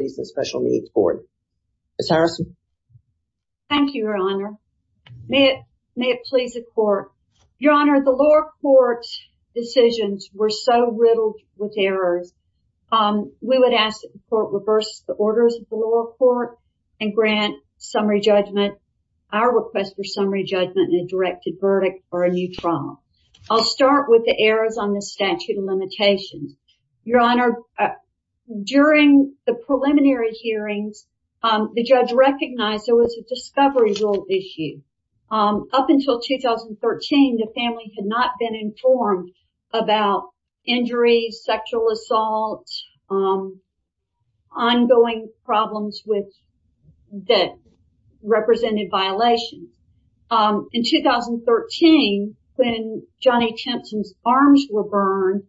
and Special Needs Board. Ms. Harrison. Thank you, Your Honor. May it please the court. Your Honor, the lower court's decisions were so riddled with errors. We would ask that the court reverse the orders of the lower court and grant summary judgment. Our request for summary judgment and a directed verdict are a mutual agreement. We would ask for a I'll start with the errors on the statute of limitations. Your Honor, during the preliminary hearings, the judge recognized there was a discovery rule issue. Up until 2013, the family had not been informed about injuries, sexual assault, ongoing problems that represented violations. In 2013, when Johnny Timpson's arms were burned,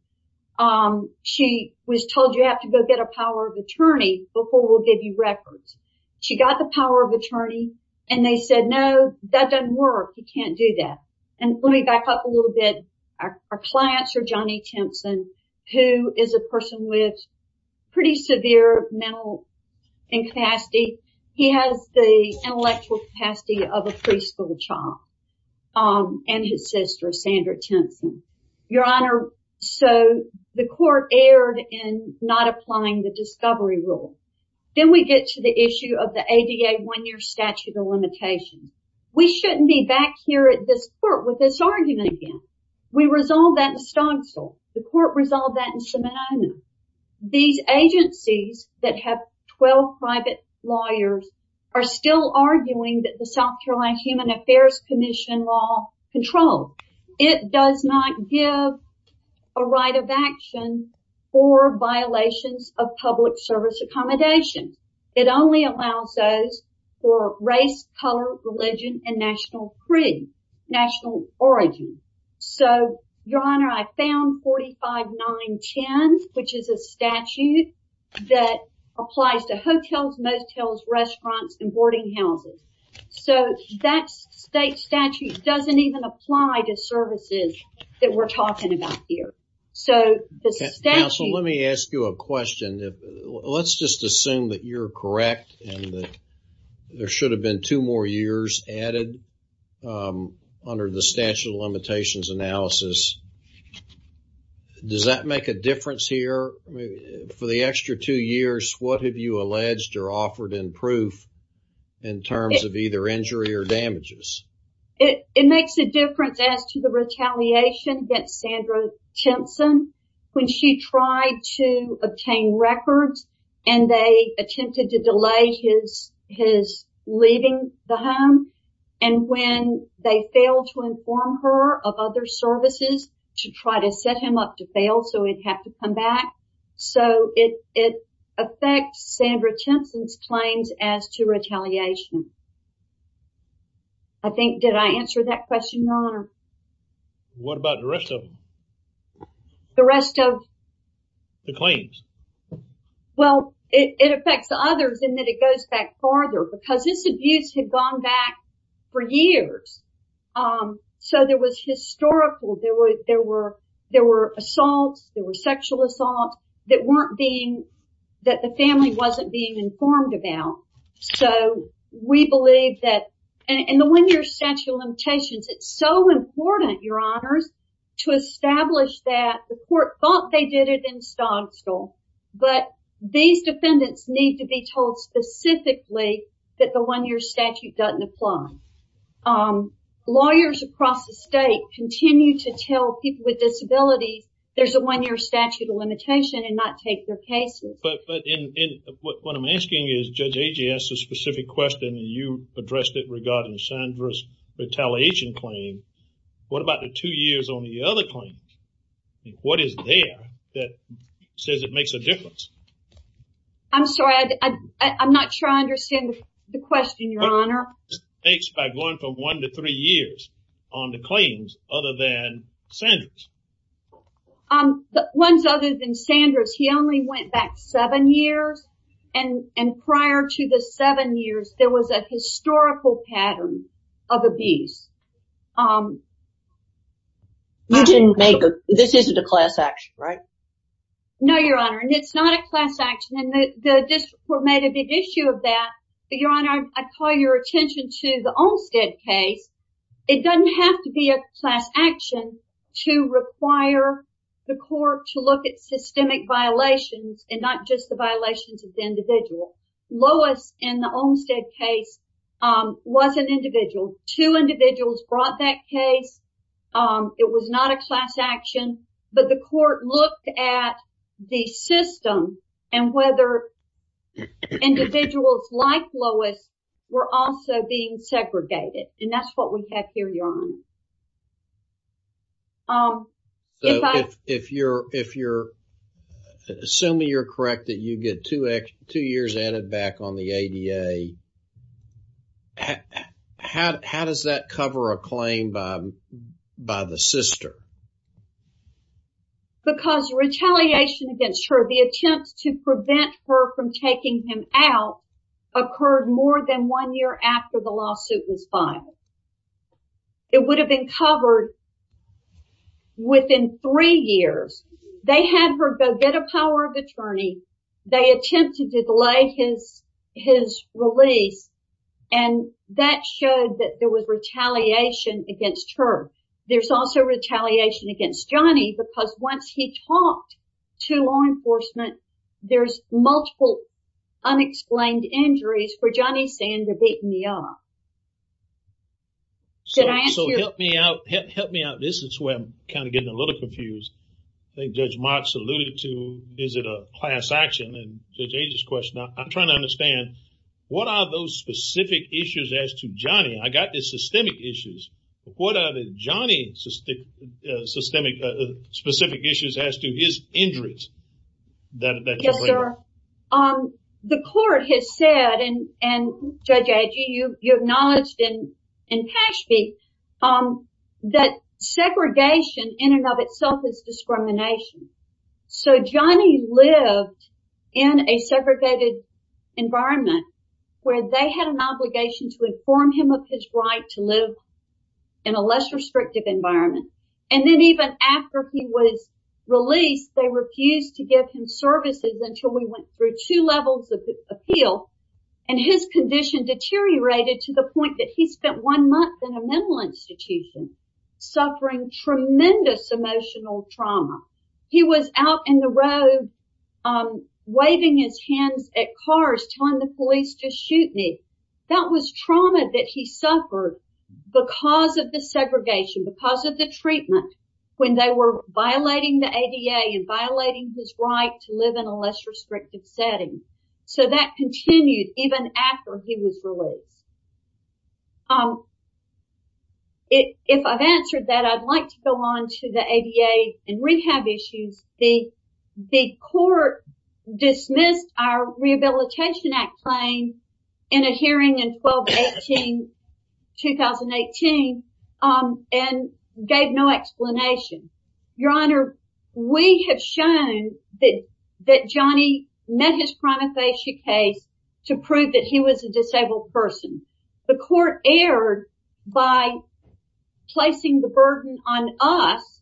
she was told you have to go get a power of attorney before we'll give you records. She got the power of attorney and they said, no, that doesn't work. He can't do that. And let me back up a little bit. Our clients are Johnny Timpson, who is a person with pretty severe mental incapacity. He has the of a preschool child and his sister, Sandra Timpson. Your Honor, so the court erred in not applying the discovery rule. Then we get to the issue of the ADA one-year statute of limitations. We shouldn't be back here at this court with this argument again. We resolved that in Stonsell. The court resolved that in Seminole. These agencies that have 12 private lawyers are still arguing that the South Carolina Human Affairs Commission law control. It does not give a right of action for violations of public service accommodations. It only allows those for race, color, religion, and national origin. Your Honor, I found 45-9-10, which is a statute that applies to hotels, motels, restaurants, and boarding houses. That state statute doesn't even apply to services that we're talking about here. Counsel, let me ask you a question. Let's just assume that you're correct and that there should have been two more years added under the statute of limitations analysis. Does that make a difference here? For the extra two years, what have you alleged or offered in proof in terms of either injury or damages? It makes a difference as to the retaliation against Sandra Timpson. When she tried to obtain records and they attempted to delay his leaving the home, and when they failed to inform her of other services to try to set him up to fail so he'd have to come back. So, it affects Sandra Timpson's claims as to retaliation. I think, did I answer that question, Your Honor? What about the rest of them? The rest of? The claims. Well, it affects others in that it goes back farther because this abuse had gone back for years. So, there was historical, there were assaults, there were sexual assaults that weren't being, that the family wasn't being informed about. So, we believe that, and the one-year statute of limitations, it's so important, Your Honors, to establish that the court thought they did it in Stogstall, but these defendants need to be told specifically that the one-year statute doesn't apply. Lawyers across the state continue to tell people with disabilities there's a one-year statute of limitation and not take their cases. But, what I'm asking is, Judge Agee asked a specific question and you addressed it regarding Sandra's retaliation claim. What about the two years on the other claims? What is there that says it makes a difference? I'm sorry, I'm not sure I understand the question, Your Honor. It's by going from one to three years on the claims other than Sandra's. The ones other than Sandra's, he only went back seven years and prior to the seven years, there was a historical pattern of abuse. You didn't make a, this isn't a class action, right? No, Your Honor, and it's not a class action and the district court made a big issue of that. Your Honor, I call your attention to the Olmstead case. It doesn't have to be a class action to require the court to look at systemic violations and not just the violations of the individual. Lois in the Olmstead case was an individual. Two individuals brought that case. It was not a class action, but the court looked at the system and whether individuals like Lois were also being segregated and that's what we have here, Your Honor. So, if you're, assuming you're correct that you get two years added back on the ADA, how does that cover a claim by the sister? Because retaliation against her, the attempts to prevent her from taking him out, occurred more than one year after the lawsuit was filed. It would have been covered within three years. They had her go get a power of attorney. They attempted to delay his release and that showed that there was retaliation against her. There's also retaliation against Johnny because once he talked to law enforcement, there's multiple unexplained injuries for Johnny saying they're beating me up. So, help me out. This is where I'm kind of getting a little confused. I think Judge Mott's alluded to, is it a class action? I'm trying to understand, what are those specific issues as to Johnny? I got the systemic issues, but what are the Johnny specific issues as to his injuries? Yes, sir. The court has said, and Judge Agee, you acknowledged in Pashby, that segregation in and of itself is discrimination. So, Johnny lived in a segregated environment where they had an obligation to inform him of his right to live in a less restrictive environment. And then even after he was released, they refused to give him services until we went through two levels of appeal and his condition deteriorated to the point that he spent one month in a mental institution suffering tremendous emotional trauma. He was out in the road, waving his hands at cars, telling the police to shoot me. That was trauma that he suffered because of the segregation, because of the treatment when they were violating the ADA and violating his right to live in a less restrictive setting. So, that continued even after he was released. If I've answered that, I'd like to go on to the ADA and rehab issues. The court dismissed our Rehabilitation Act claim in a hearing in 2018 and gave no explanation. Your Honor, we have shown that Johnny met his primifacia case to prove that he was a disabled person. The court erred by placing the burden on us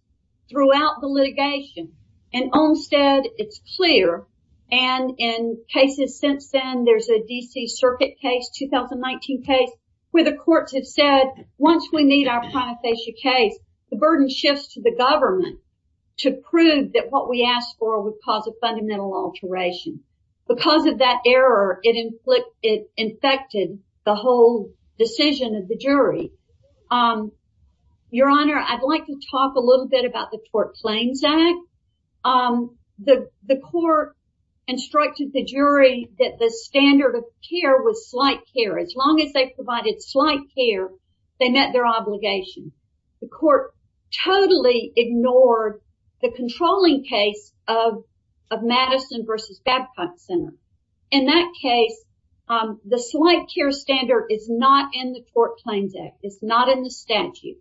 throughout the litigation. And Olmstead, it's clear, and in cases since then, there's a DC circuit case, 2019 case, where the courts have said, once we meet our primifacia case, the burden shifts to the government to prove that what we asked for would cause a fundamental alteration. Because of that error, it infected the whole decision of the jury. Your Honor, I'd like to talk a little bit about the Tort Claims Act. The court instructed the jury that the standard of care was slight care. As long as they provided slight care, they met their obligation. The court totally ignored the controlling case of Madison v. Babcock Center. In that case, the slight care standard is not in the Tort Claims Act. It's not in the statute.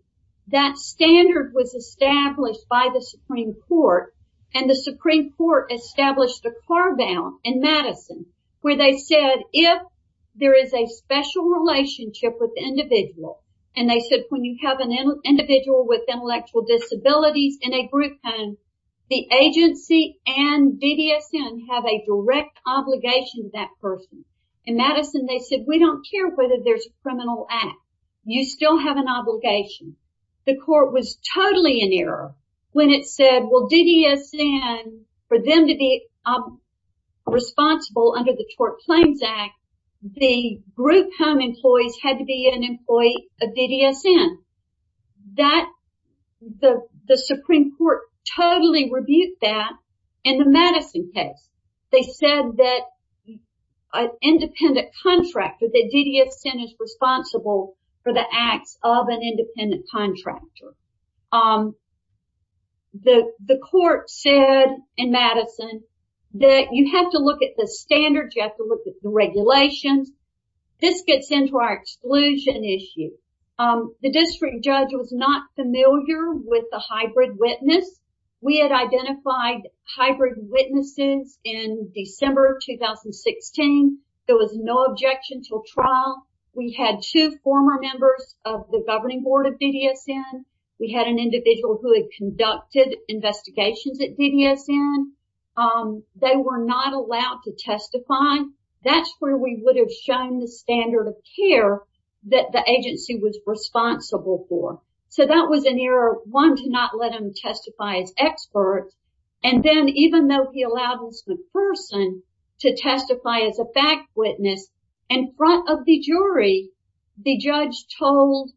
That standard was established by the Supreme Court, and the Supreme Court established a carve out in Madison where they said, if there is a special relationship with the individual, and they said, when you have an individual with intellectual disabilities in a court, you have a direct obligation to that person. In Madison, they said, we don't care whether there's a criminal act. You still have an obligation. The court was totally in error when it said, well, DDSN, for them to be responsible under the Tort Claims Act, the group home employees had to be an employee of DDSN. The Supreme Court totally rebuked that in the Madison case. They said that an independent contractor, that DDSN is responsible for the acts of an independent contractor. The court said in Madison that you have to look at the standards. You have to look at the regulations. This gets into our exclusion issue. The district witnesses in December of 2016, there was no objection to a trial. We had two former members of the governing board of DDSN. We had an individual who had conducted investigations at DDSN. They were not allowed to testify. That's where we would have shown the standard of care that the agency was responsible for. So that was an error, one, to not let them testify as experts, and then even though he allowed Ms. McPherson to testify as a fact witness in front of the jury, the judge told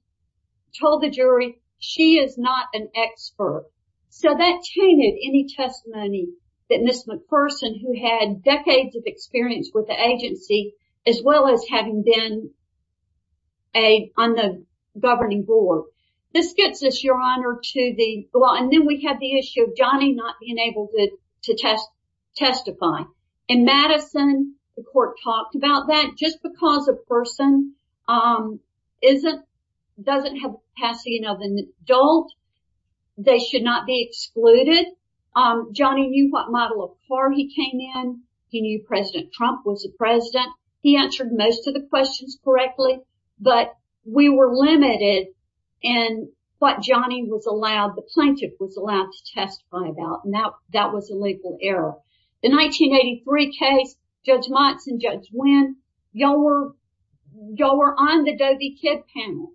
the jury she is not an expert. So that tainted any testimony that Ms. McPherson, who had decades of experience with the agency, as well as having been on the governing board. This gets us, Your Honor, to the issue of Johnny not being able to testify. In Madison, the court talked about that. Just because a person doesn't have the capacity of an adult, they should not be excluded. Johnny knew what model of car he came in. He knew President Trump was the president. He answered most of the questions correctly, but we were limited in what Johnny was allowed, the plaintiff was allowed to testify about, and that was a legal error. The 1983 case, Judge Monson, Judge Wynn, y'all were on the Doe v. Kidd panel.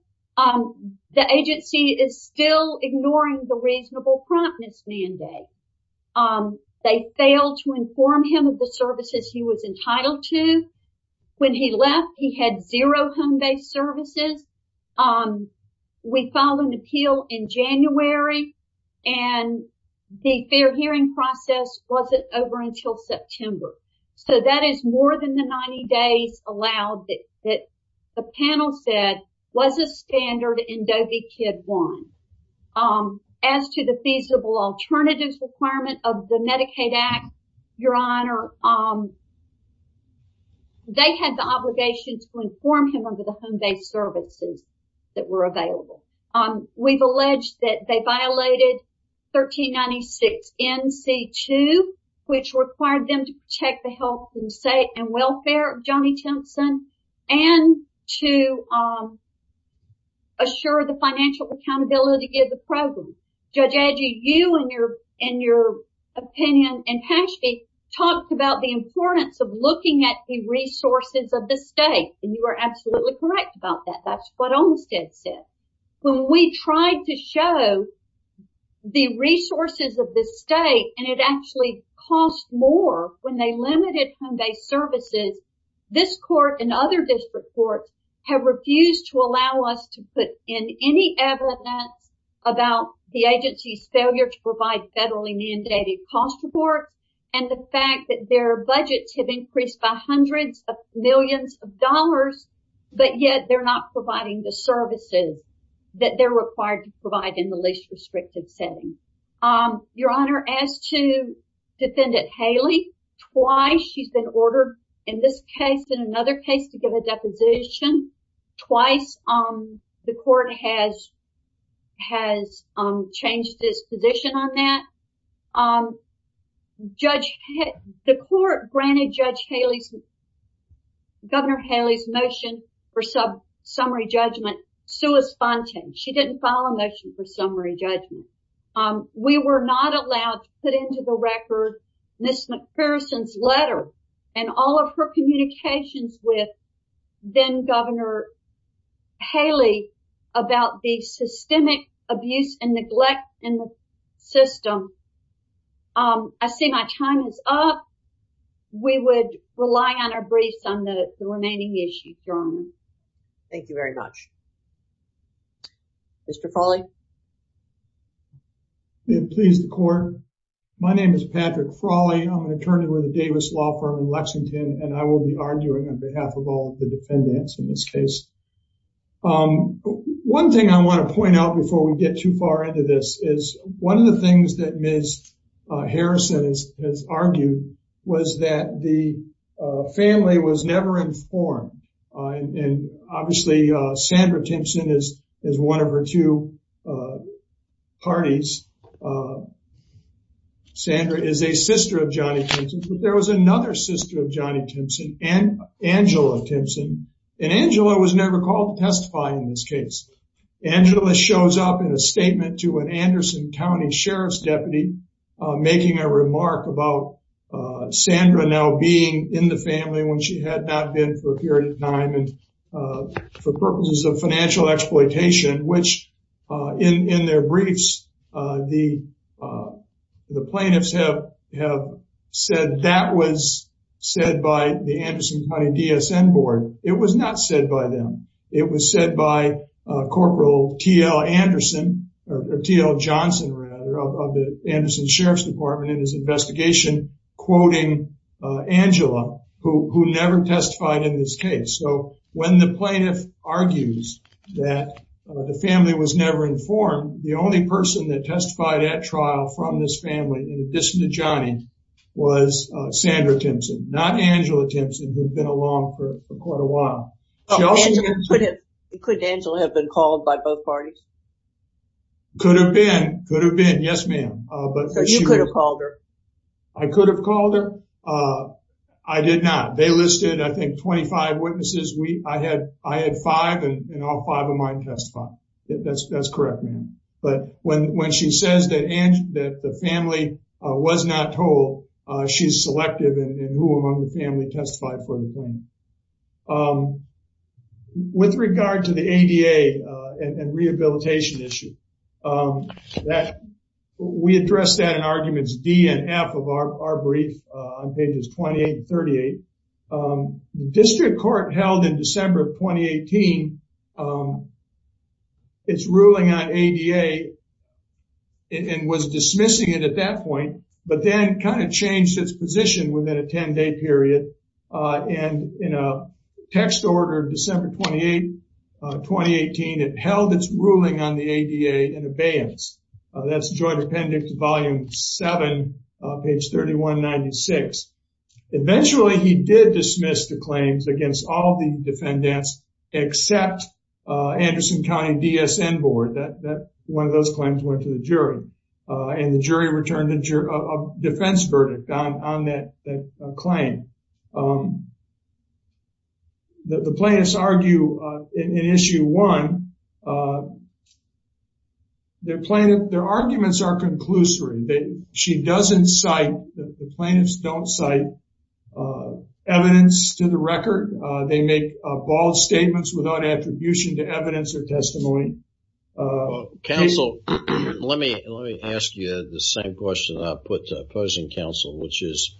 The agency is still ignoring the reasonable promptness mandate. They failed to inform him the services he was entitled to. When he left, he had zero home-based services. We filed an appeal in January, and the fair hearing process wasn't over until September. So that is more than the 90 days allowed that the panel said was a standard in Doe v. Kidd 1. As to the feasible alternatives requirement of the Medicaid Act, Your Honor, they had the obligation to inform him of the home-based services that were available. We've alleged that they violated 1396 N.C. 2, which required them to protect the health and welfare of Johnny Timpson, and to assure the financial accountability of the program. Judge Adgey, you and your opinion, and Paschke talked about the importance of looking at the resources of the state, and you were absolutely correct about that. That's what Olmsted said. When we tried to show the resources of the state, and it actually cost more when they limited home-based services, this court and other district courts have refused to allow us to put in any evidence about the agency's failure to provide federally mandated cost support, and the fact that their budgets have increased by hundreds of millions of dollars, but yet they're not providing the services that they're required to provide in the least restrictive setting. Your Honor, as to Defendant Haley, twice she's been ordered in this case and another case to give a deposition. Twice the court has changed its position on that. The court granted Judge Haley's, Governor Haley's motion for sub-summary judgment sua sponte. She didn't file a motion for summary put into the record Ms. McPherson's letter and all of her communications with then Governor Haley about the systemic abuse and neglect in the system. I see my time is up. We would rely on our briefs on the remaining issues, Your Honor. Thank you very much. Mr. Frawley. Please the court. My name is Patrick Frawley. I'm an attorney with the Davis Law Firm in Lexington, and I will be arguing on behalf of all the defendants in this case. One thing I want to point out before we get too far into this is one of the things that Ms. McPherson has argued was that the family was never informed. And obviously Sandra Timpson is is one of her two parties. Sandra is a sister of Johnny Timpson, but there was another sister of Johnny Timpson, Angela Timpson. And Angela was never called to testify in this case. Angela shows up in a statement to an Anderson County Sheriff's deputy, making a remark about Sandra now being in the family when she had not been for a period of time and for purposes of financial exploitation, which in their briefs, the plaintiffs have said that was not said by them. It was said by Corporal T.L. Anderson, or T.L. Johnson rather, of the Anderson Sheriff's Department in his investigation, quoting Angela, who never testified in this case. So when the plaintiff argues that the family was never informed, the only person that testified at trial from this family, in addition to Johnny, was Sandra Timpson, not Angela Timpson, who had been along for quite a while. Could Angela have been called by both parties? Could have been. Could have been. Yes, ma'am. So you could have called her? I could have called her. I did not. They listed, I think, 25 witnesses. I had five, and all five of mine testified. That's correct, ma'am. But when she says that the family was not told, she's selective in who among the family testified for the claim. With regard to the ADA and rehabilitation issue, we addressed that in arguments D and F of our brief on pages 28 and 38. The district court held in December of 2018 its ruling on ADA and was dismissing it at that point, but then kind of changed its position within a 10-day period. And in a text order of December 28, 2018, it held its ruling on the ADA in abeyance. That's Joint Appendix Volume 7, page 3196. Eventually, he did dismiss the claims against all the defendants except Anderson County DSN Board. One of those claims went to the jury, and the jury returned a defense verdict on that claim. The plaintiffs argue in Issue 1, their arguments are conclusory. She doesn't cite, the plaintiffs don't cite evidence to the record. They make bold statements without attribution to evidence or Let me ask you the same question I put to opposing counsel, which is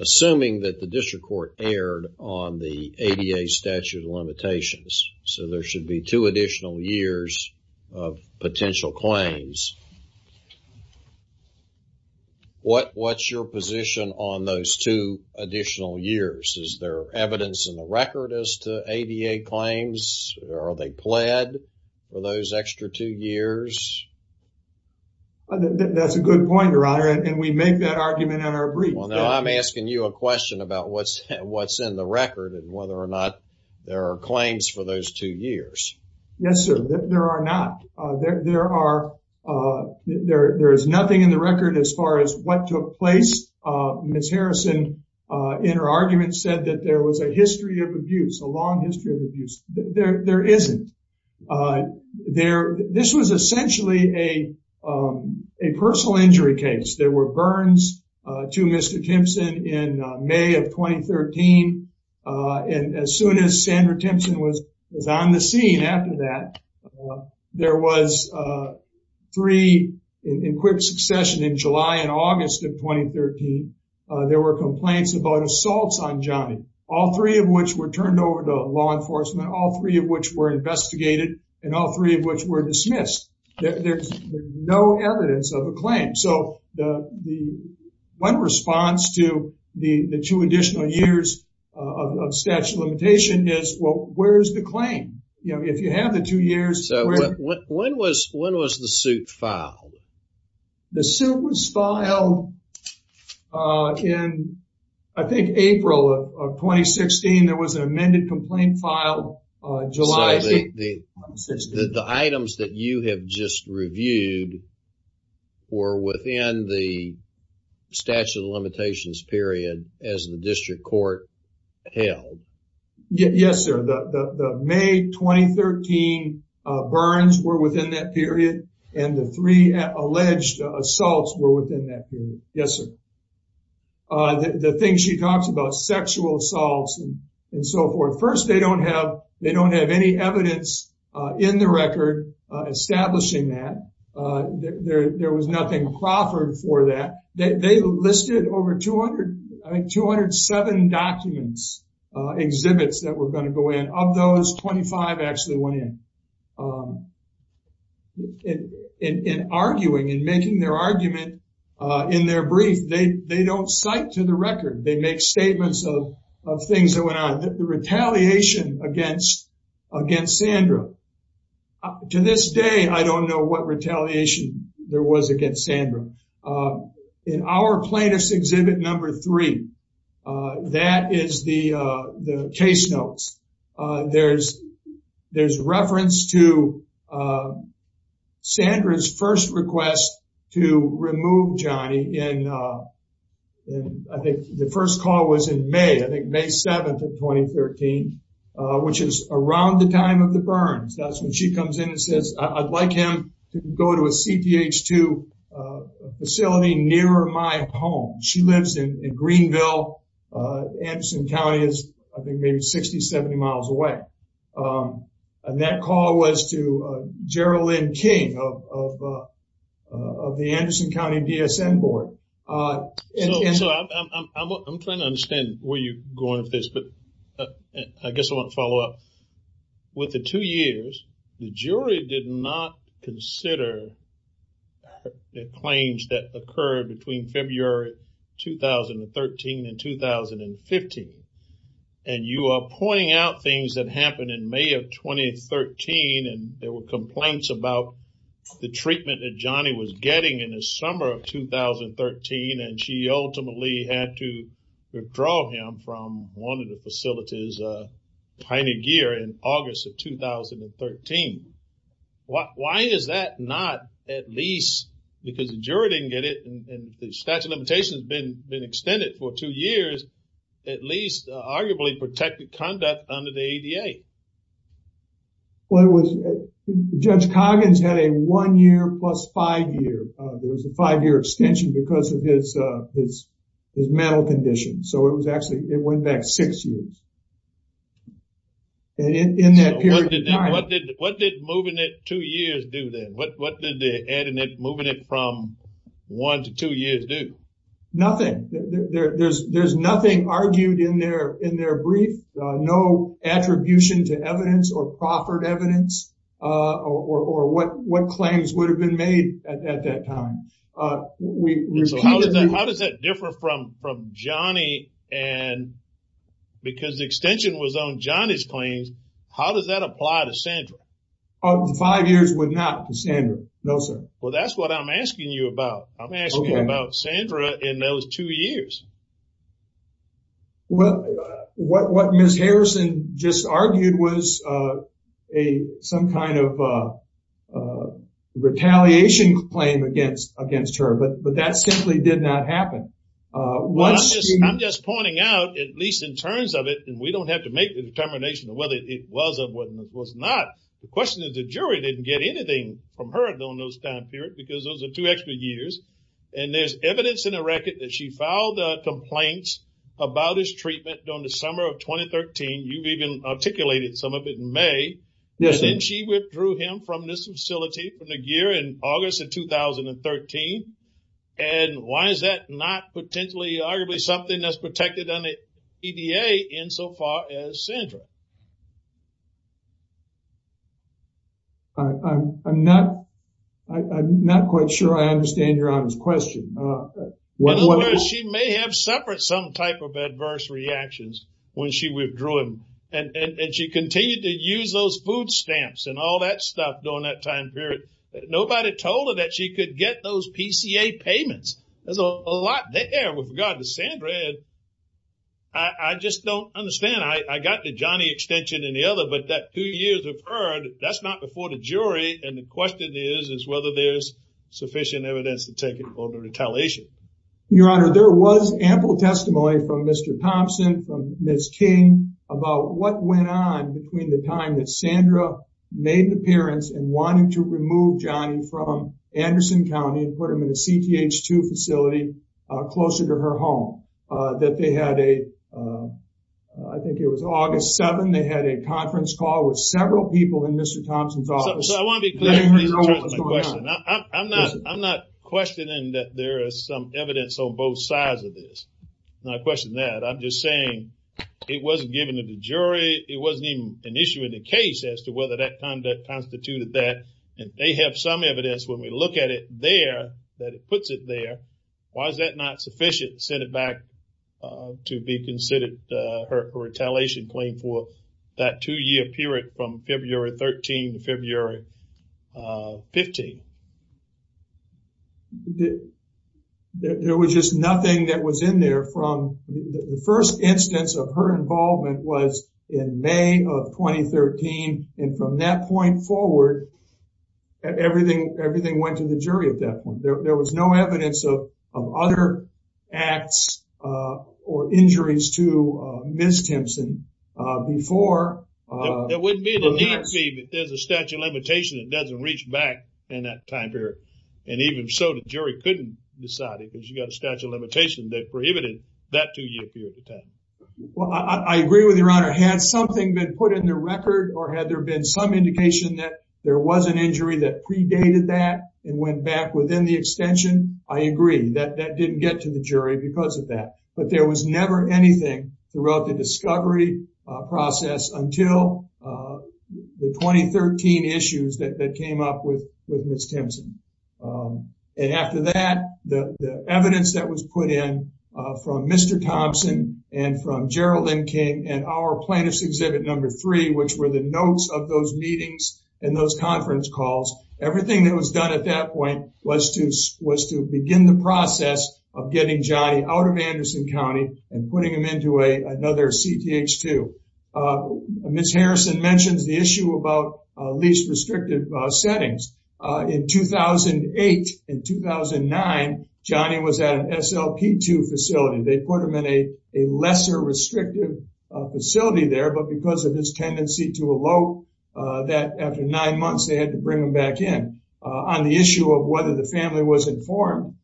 assuming that the district court erred on the ADA statute of limitations, so there should be two additional years of potential claims. What's your position on those two additional years? Is there evidence in the record as to That's a good point, Your Honor, and we make that argument in our brief. Well, now I'm asking you a question about what's in the record and whether or not there are claims for those two years. Yes, sir, there are not. There is nothing in the record as far as what took place. Ms. Harrison, in her argument, said that there was a history of abuse, a long history of abuse. There isn't. This was essentially a personal injury case. There were burns to Mr. Timpson in May of 2013, and as soon as Sandra Timpson was on the scene after that, there was three in quick succession in July and August of 2013, there were complaints about assaults on Johnny, all three of which were turned over to law enforcement, all three of which were investigated, and all three of which were dismissed. There's no evidence of a claim. So one response to the two additional years of statute of limitations is, well, where's the claim? If you have the two years... So when was the suit filed? The suit was filed in, I think, April of 2016. There was an amended complaint filed July... So the items that you have just reviewed were within the statute of limitations period as the district court held? Yes, sir. The May 2013 burns were within that period, and the three alleged assaults were within that period. Yes, sir. The thing she talks about, sexual assaults and so forth. First, they don't have any evidence in the record establishing that. There was nothing proffered for that. They listed over 207 documents, exhibits that were going to go in. Of those, 25 actually went in. In arguing, in making their argument in their brief, they don't cite to the record. They make statements of things that went on. The retaliation against Sandra. To this day, I don't know what retaliation there was against Sandra. In our plaintiff's exhibit number three, that is the case notes. There's reference to Sandra's first request to remove Johnny in... I think the first call was in May, I think May 7th of 2013, which is around the time of the go to a CPH2 facility near my home. She lives in Greenville. Anderson County is, I think, maybe 60, 70 miles away. That call was to Geraldine King of the Anderson County DSM board. I'm trying to understand where you're going with this, but I guess I want to follow up. With the two years, the jury did not consider the claims that occurred between February 2013 and 2015. You are pointing out things that happened in May of 2013. There were complaints about the treatment that Johnny was getting in the summer of 2013. She ultimately had to find a gear in August of 2013. Why is that not at least, because the jury didn't get it and the statute of limitations has been extended for two years, at least arguably protected conduct under the ADA? Judge Coggins had a one year plus five year. There was a five year extension because of his mental condition. It went back six years. What did moving it two years do then? What did moving it from one to two years do? Nothing. There's nothing argued in their brief. No attribution to evidence or proffered evidence or what claims would have been made at that time. How does that differ from Johnny? Because the extension was on Johnny's claims, how does that apply to Sandra? The five years would not to Sandra, no sir. Well, that's what I'm asking you about. I'm asking you about Sandra in those two years. Well, what Ms. Harrison just argued was some kind of retaliation claim against her, but that simply did not happen. I'm just pointing out, at least in terms of it, and we don't have to make the determination of whether it was or was not, the question is the jury didn't get anything from her during those two extra years. There's evidence in the record that she filed complaints about his treatment during the summer of 2013. You even articulated some of it in May. Then she withdrew him from this facility from the year in August of 2013. Why is that not potentially arguably something that's protected under EDA insofar as Sandra? I'm not quite sure I understand your honest question. In other words, she may have suffered some type of adverse reactions when she withdrew him. She continued to use those food stamps and all that stuff during that time period. Nobody told her that she could get those PCA payments. There's a lot there with regard to it. I just don't understand. I got the Johnny extension and the other, but that two years referred, that's not before the jury, and the question is whether there's sufficient evidence to take it for the retaliation. Your Honor, there was ample testimony from Mr. Thompson, from Ms. King, about what went on between the time that Sandra made the appearance and wanted to remove Johnny from Anderson County and put him in a CTH2 facility closer to her home. That they had a, I think it was August 7th, they had a conference call with several people in Mr. Thompson's office. So I want to be clear. I'm not questioning that there is some evidence on both sides of this. I'm not questioning that. I'm just saying it wasn't given to the jury. It wasn't even an issue in the case as to whether that conduct constituted that, and they have some evidence when we look at it there, that it puts it there. Why is that not sufficient, send it back to be considered a retaliation claim for that two-year period from February 13 to February 15? There was just nothing that was in there from the first instance of her involvement was in May of 2013, and from that point forward, everything went to the jury at that point. There was no evidence of other acts or injuries to Ms. Thompson before. There wouldn't be, but there's a statute of limitation that doesn't reach back in that time period, and even so the jury couldn't decide it because you got a statute of limitation that prohibited that two-year period of time. Well, I agree with your honor. Had something been put in the record or had there been some indication that there was an injury that predated that and went back within the extension, I agree that that didn't get to the jury because of that, but there was never anything throughout the discovery process until the 2013 issues that came up with Ms. Thompson. And after that, the evidence that was put in from Mr. Thompson and from Gerald M. King and our plaintiff's exhibit number three, which were the notes of those conference calls, everything that was done at that point was to begin the process of getting Johnny out of Anderson County and putting him into another CTH2. Ms. Harrison mentions the issue about least restrictive settings. In 2008 and 2009, Johnny was at an SLP2 facility. They put him in a they had to bring him back in. On the issue of whether the family was informed,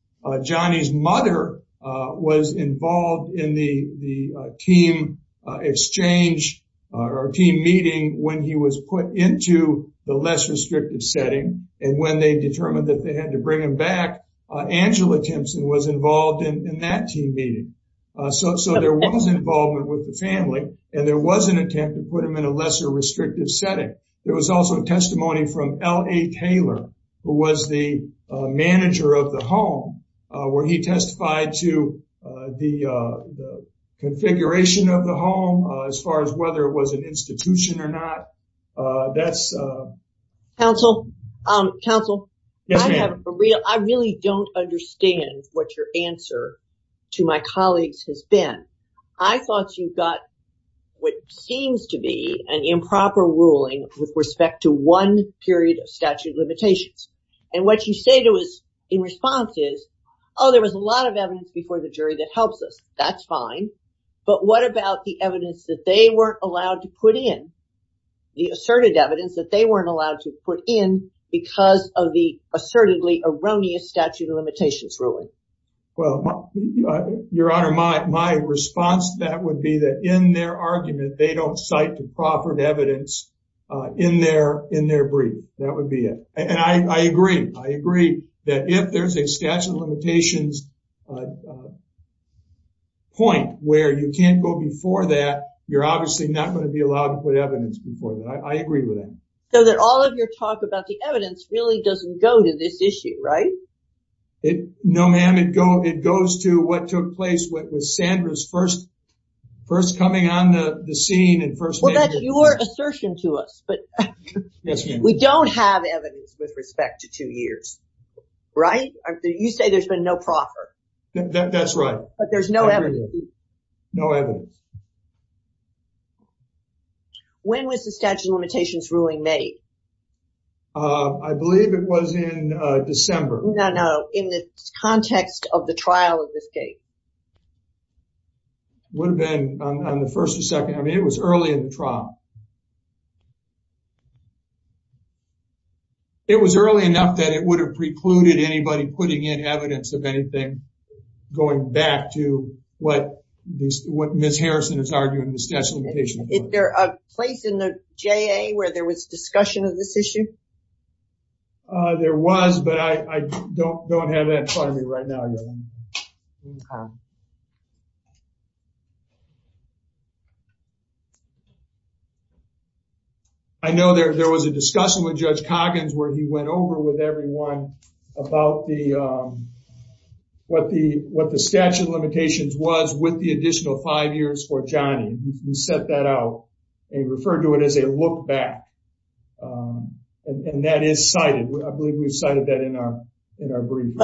Johnny's mother was involved in the team exchange or team meeting when he was put into the less restrictive setting. And when they determined that they had to bring him back, Angela Thompson was involved in that team meeting. So there was involvement with the family and there was an attempt to put him in a lesser restrictive setting. There was also testimony from L.A. Taylor, who was the manager of the home, where he testified to the configuration of the home as far as whether it was an institution or not. Council, I really don't understand what your an improper ruling with respect to one period of statute of limitations. And what you say to us in response is, oh, there was a lot of evidence before the jury that helps us. That's fine. But what about the evidence that they weren't allowed to put in, the asserted evidence that they weren't allowed to put in because of the assertedly erroneous statute of limitations really? Well, your honor, my response to that would be that in their argument, they don't cite the proffered evidence in their brief. That would be it. And I agree. I agree that if there's a statute of limitations point where you can't go before that, you're obviously not going to be allowed to put evidence before that. I agree with that. So that all of your talk about the evidence really doesn't go to this issue, right? No, ma'am, it goes to what took place with Sandra's first coming on the scene and first meeting. Well, that's your assertion to us, but we don't have evidence with respect to two years, right? You say there's been no proffer. That's right. But there's no evidence. No evidence. When was the statute of limitations ruling made? I believe it was in December. No, no. In the context of the trial of this case. Would have been on the first or second. I mean, it was early in the trial. It was early enough that it would have precluded anybody putting in evidence of anything going back to what Ms. Harrison is arguing, the statute of limitations. Is there a place in the JA where there was discussion of this issue? There was, but I don't have that in front of me right now. I know there was a discussion with Judge Coggins where he went over with everyone about what the statute of limitations was with the additional five years for Johnny. He set that out and referred to it as a look back. And that is cited. I believe we've cited that in our brief.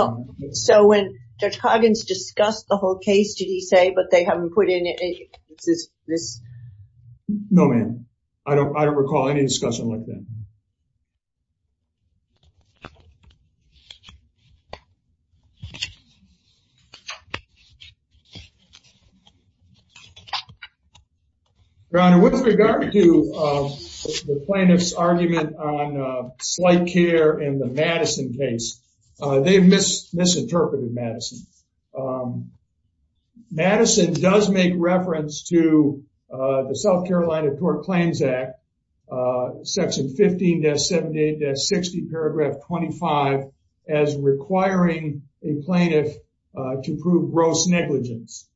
So when Judge Coggins discussed the whole case, did he say, but they haven't put in evidence of this? No, ma'am. I don't recall any discussion like that. Your Honor, with regard to the plaintiff's argument on slight care in the Madison case, they've misinterpreted Madison. Madison does make reference to the South Carolina Court Claims Act, section 15-78-60 paragraph 25, as requiring a plaintiff to prove gross negligence.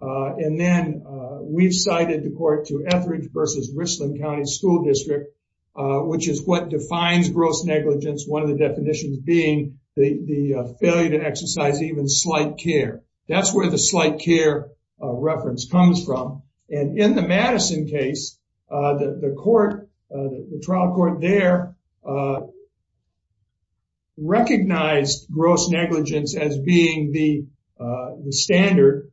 And then we've cited the court to Etheridge versus Richland County School District, which is what defines gross negligence. One of the definitions being the failure to exercise even slight care. That's where the slight care reference comes from. And in the Madison case, the court, the trial court there recognized gross negligence as being the standard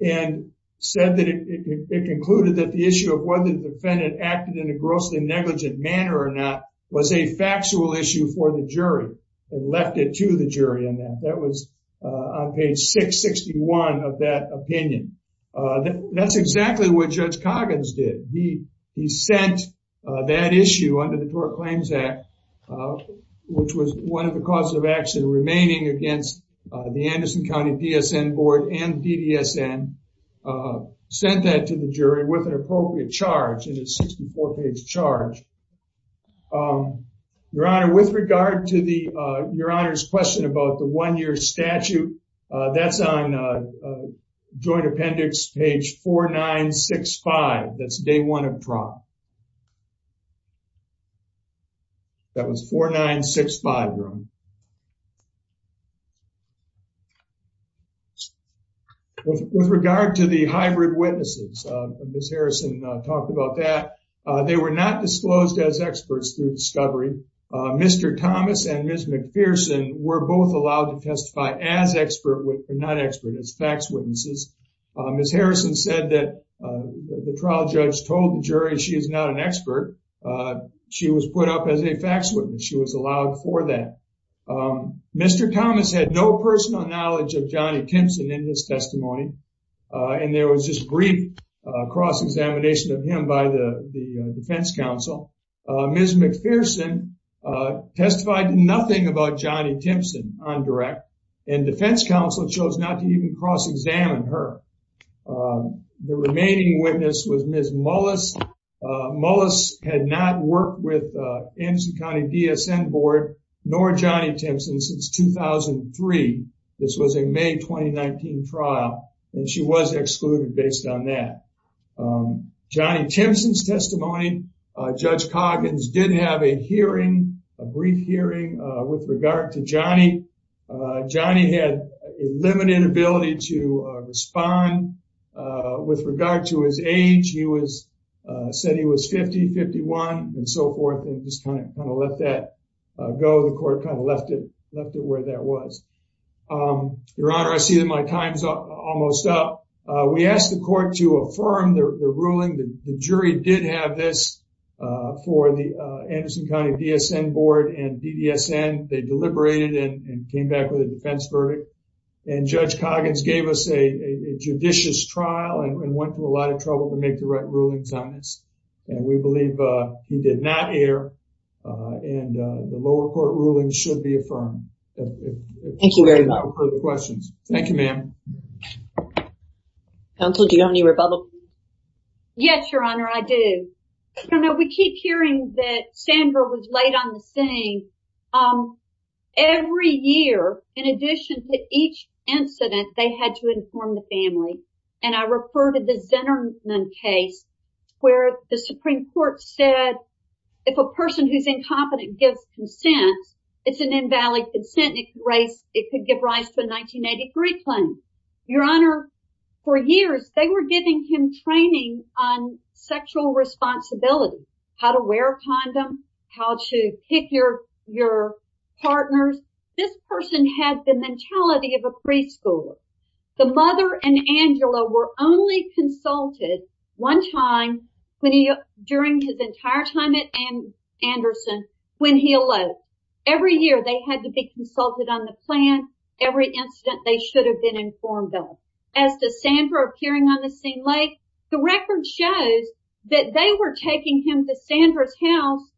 and said that it concluded that the issue of whether the defendant acted in a grossly negligent manner or not was a factual issue for the jury and left it to the jury on that. That was on page 661 of that opinion. That's exactly what Judge Coggins did. He sent that issue under the Court Claims Act, which was one of the causes of action remaining against the Anderson County PSN Board and DDSN, sent that to the jury with an appropriate charge and a 64-page charge. Your Honor, with regard to the, Your Honor's question about the one-year statute, that's on Joint Appendix page 4965. That's day one of trial. That was 4965 room. With regard to the hybrid witnesses, Ms. Harrison talked about that. They were not disclosed as experts through discovery. Mr. Thomas and Ms. McPherson were both allowed to testify as expert, not expert, as facts witnesses. Ms. Harrison said that the trial judge told the jury she is not an expert. She was put up as a facts witness. She was allowed for that. Mr. Thomas had no personal knowledge of Johnny Timpson in his testimony, and there was just brief cross-examination of him by the defense counsel. Ms. McPherson testified nothing about Johnny Timpson on direct, and defense counsel chose not to even cross-examine her. The remaining witness was Ms. Mullis. Mullis had not worked with Anderson County DSN Board nor Johnny Timpson since 2003. This was a May 2019 trial, and she was excluded based on that. Johnny Timpson's testimony, Judge Coggins did have a hearing, a brief hearing, with regard to Johnny. Johnny had a limited ability to respond with regard to his age. He said he was 50, 51, and so forth, and just kind of let that go. The court kind of left it where that was. Your Honor, I see that my time's almost up. We asked the court to affirm the ruling. The jury did have this for the Anderson County DSN Board and DDSN. They deliberated and came back with a defense verdict, and Judge Coggins gave us a judicious trial and went through a lot of error. The lower court ruling should be affirmed. Thank you very much. Thank you, ma'am. Counsel, do you have any rebuttal? Yes, Your Honor, I do. We keep hearing that Sandra was late on the scene. Every year, in addition to each incident, they had to inform the family, and I refer to the Zinnerman case, where the Supreme Court said if a person who's incompetent gives consent, it's an invalid consent, and it could give rise to a 1983 claim. Your Honor, for years, they were giving him training on sexual responsibility, how to wear a condom, how to pick your partners. This person had the mentality of a preschooler. The mother and Angela were only consulted one time during his entire time at Anderson, when he eloped. Every year, they had to be consulted on the plan. Every incident, they should have been informed, though. As to Sandra appearing on the scene late, the record shows that they were taking him to Sandra's house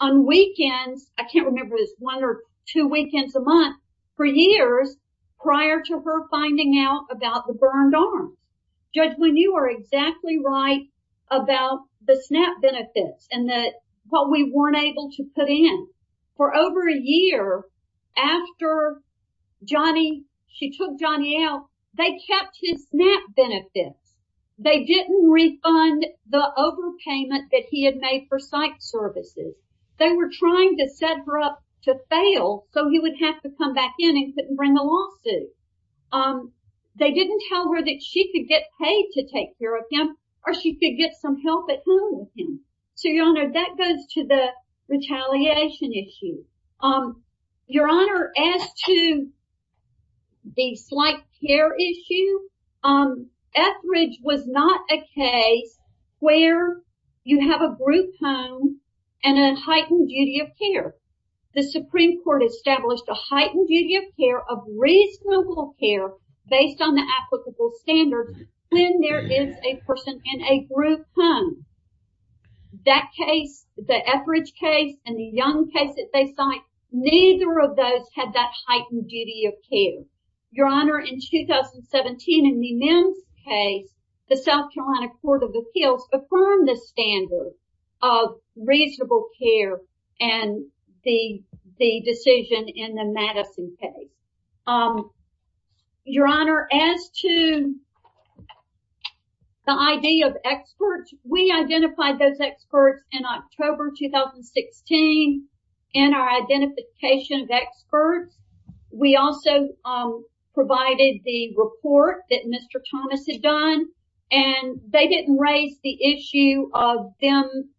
on weekends. I can't remember one or two weekends a month. For years, prior to her finding out about the burned arm, Judge, when you are exactly right about the SNAP benefits and what we weren't able to put in, for over a year after she took Johnny out, they kept his SNAP benefits. They didn't refund the overpayment that he had made for psych services. They were trying to set her up to fail so he would have to come back in and couldn't bring a lawsuit. They didn't tell her that she could get paid to take care of him or she could get some help at home with him. So, Your Honor, that goes to the retaliation issue. Your Honor, as to the slight care issue, Etheridge was not a case where you have a group home and a heightened duty of care. The Supreme Court established a heightened duty of care of reasonable care based on the applicable standards when there is a person in a group home. That case, the Etheridge case, and the Young case that they cite, neither of those had that heightened duty of care. Your Honor, in 2017, in the Mims case, the South Carolina Court of Appeals affirmed the standard of reasonable care and the decision in the Madison case. Your Honor, as to the idea of experts, we identified those experts in October 2016. In our identification of experts, we also provided the report that Mr. Thomas had done and they didn't raise the issue of them,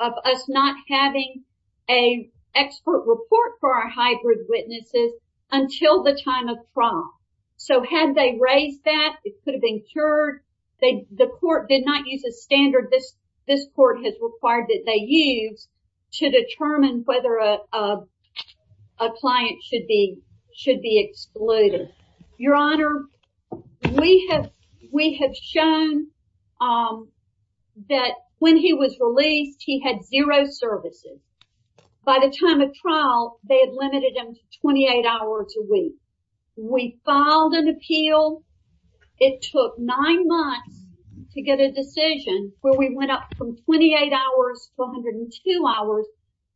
of us not having an expert report for our hybrid witnesses until the time of prom. So, had they raised that, it could have been cured. The court did not use a standard this court has required that they use to determine whether a client should be excluded. Your Honor, we have shown that when he was released, he had zero services. By the time of trial, they had limited him to 28 hours a week. We filed an appeal. It took nine months to get a decision where we went up from 28 hours to 102 hours.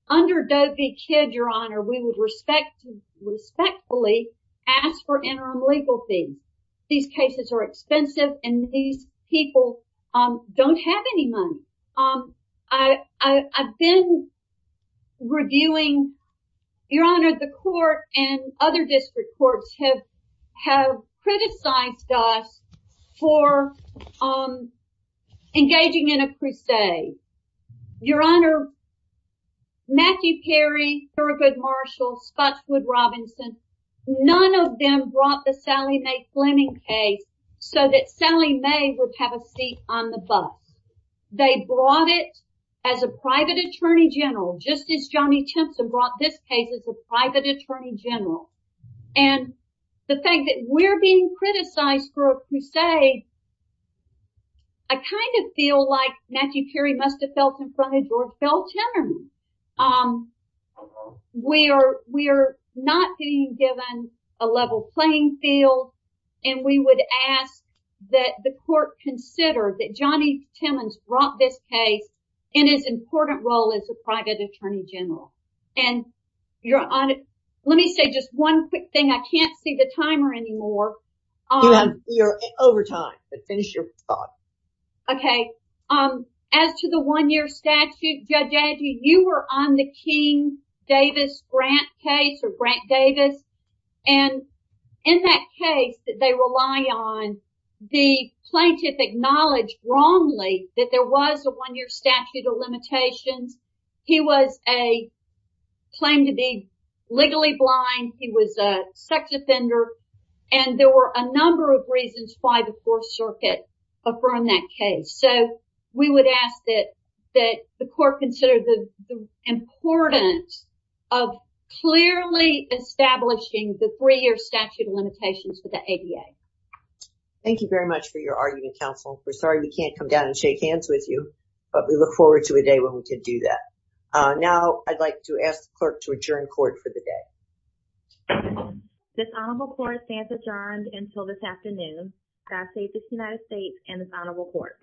Under Doe v. Kidd, Your Honor, we would respectfully ask for interim legal fees. These cases are expensive and these people don't have any money. I've been reviewing, Your Honor, the court and other district courts have criticized us for engaging in a crusade. Your Honor, Matthew Perry, Thurgood Marshall, Scottswood Robinson, none of them brought the Sally May Fleming case so that Sally May would have a seat on the bus. They brought it as a private attorney general, just as Johnny Timmons did. We're being criticized for a crusade. I kind of feel like Matthew Perry must have felt in front of George Bell Timmons. We are not being given a level playing field and we would ask that the court consider that Johnny Timmons brought this case in as important role as a private attorney general. Your Honor, let me say just one quick thing. I can't see the timer anymore. You're over time, but finish your thought. Okay. As to the one-year statute, Judge Angie, you were on the King-Davis-Grant case or Grant-Davis. In that case that they rely on, the plaintiff acknowledged wrongly that there was a one-year statute of limitations. He was a claim to be legally blind. He was a sex offender and there were a number of reasons why the Fourth Circuit affirmed that case. So, we would ask that the court consider the importance of clearly establishing the three-year statute of limitations for the ADA. Thank you very much for your argument, counsel. We're sorry we can't come down and shake hands with you, but we look forward to a day when we can do that. Now, I'd like to ask the clerk to adjourn court for the day. This honorable court stands adjourned until this afternoon. God save this United States and this honorable court.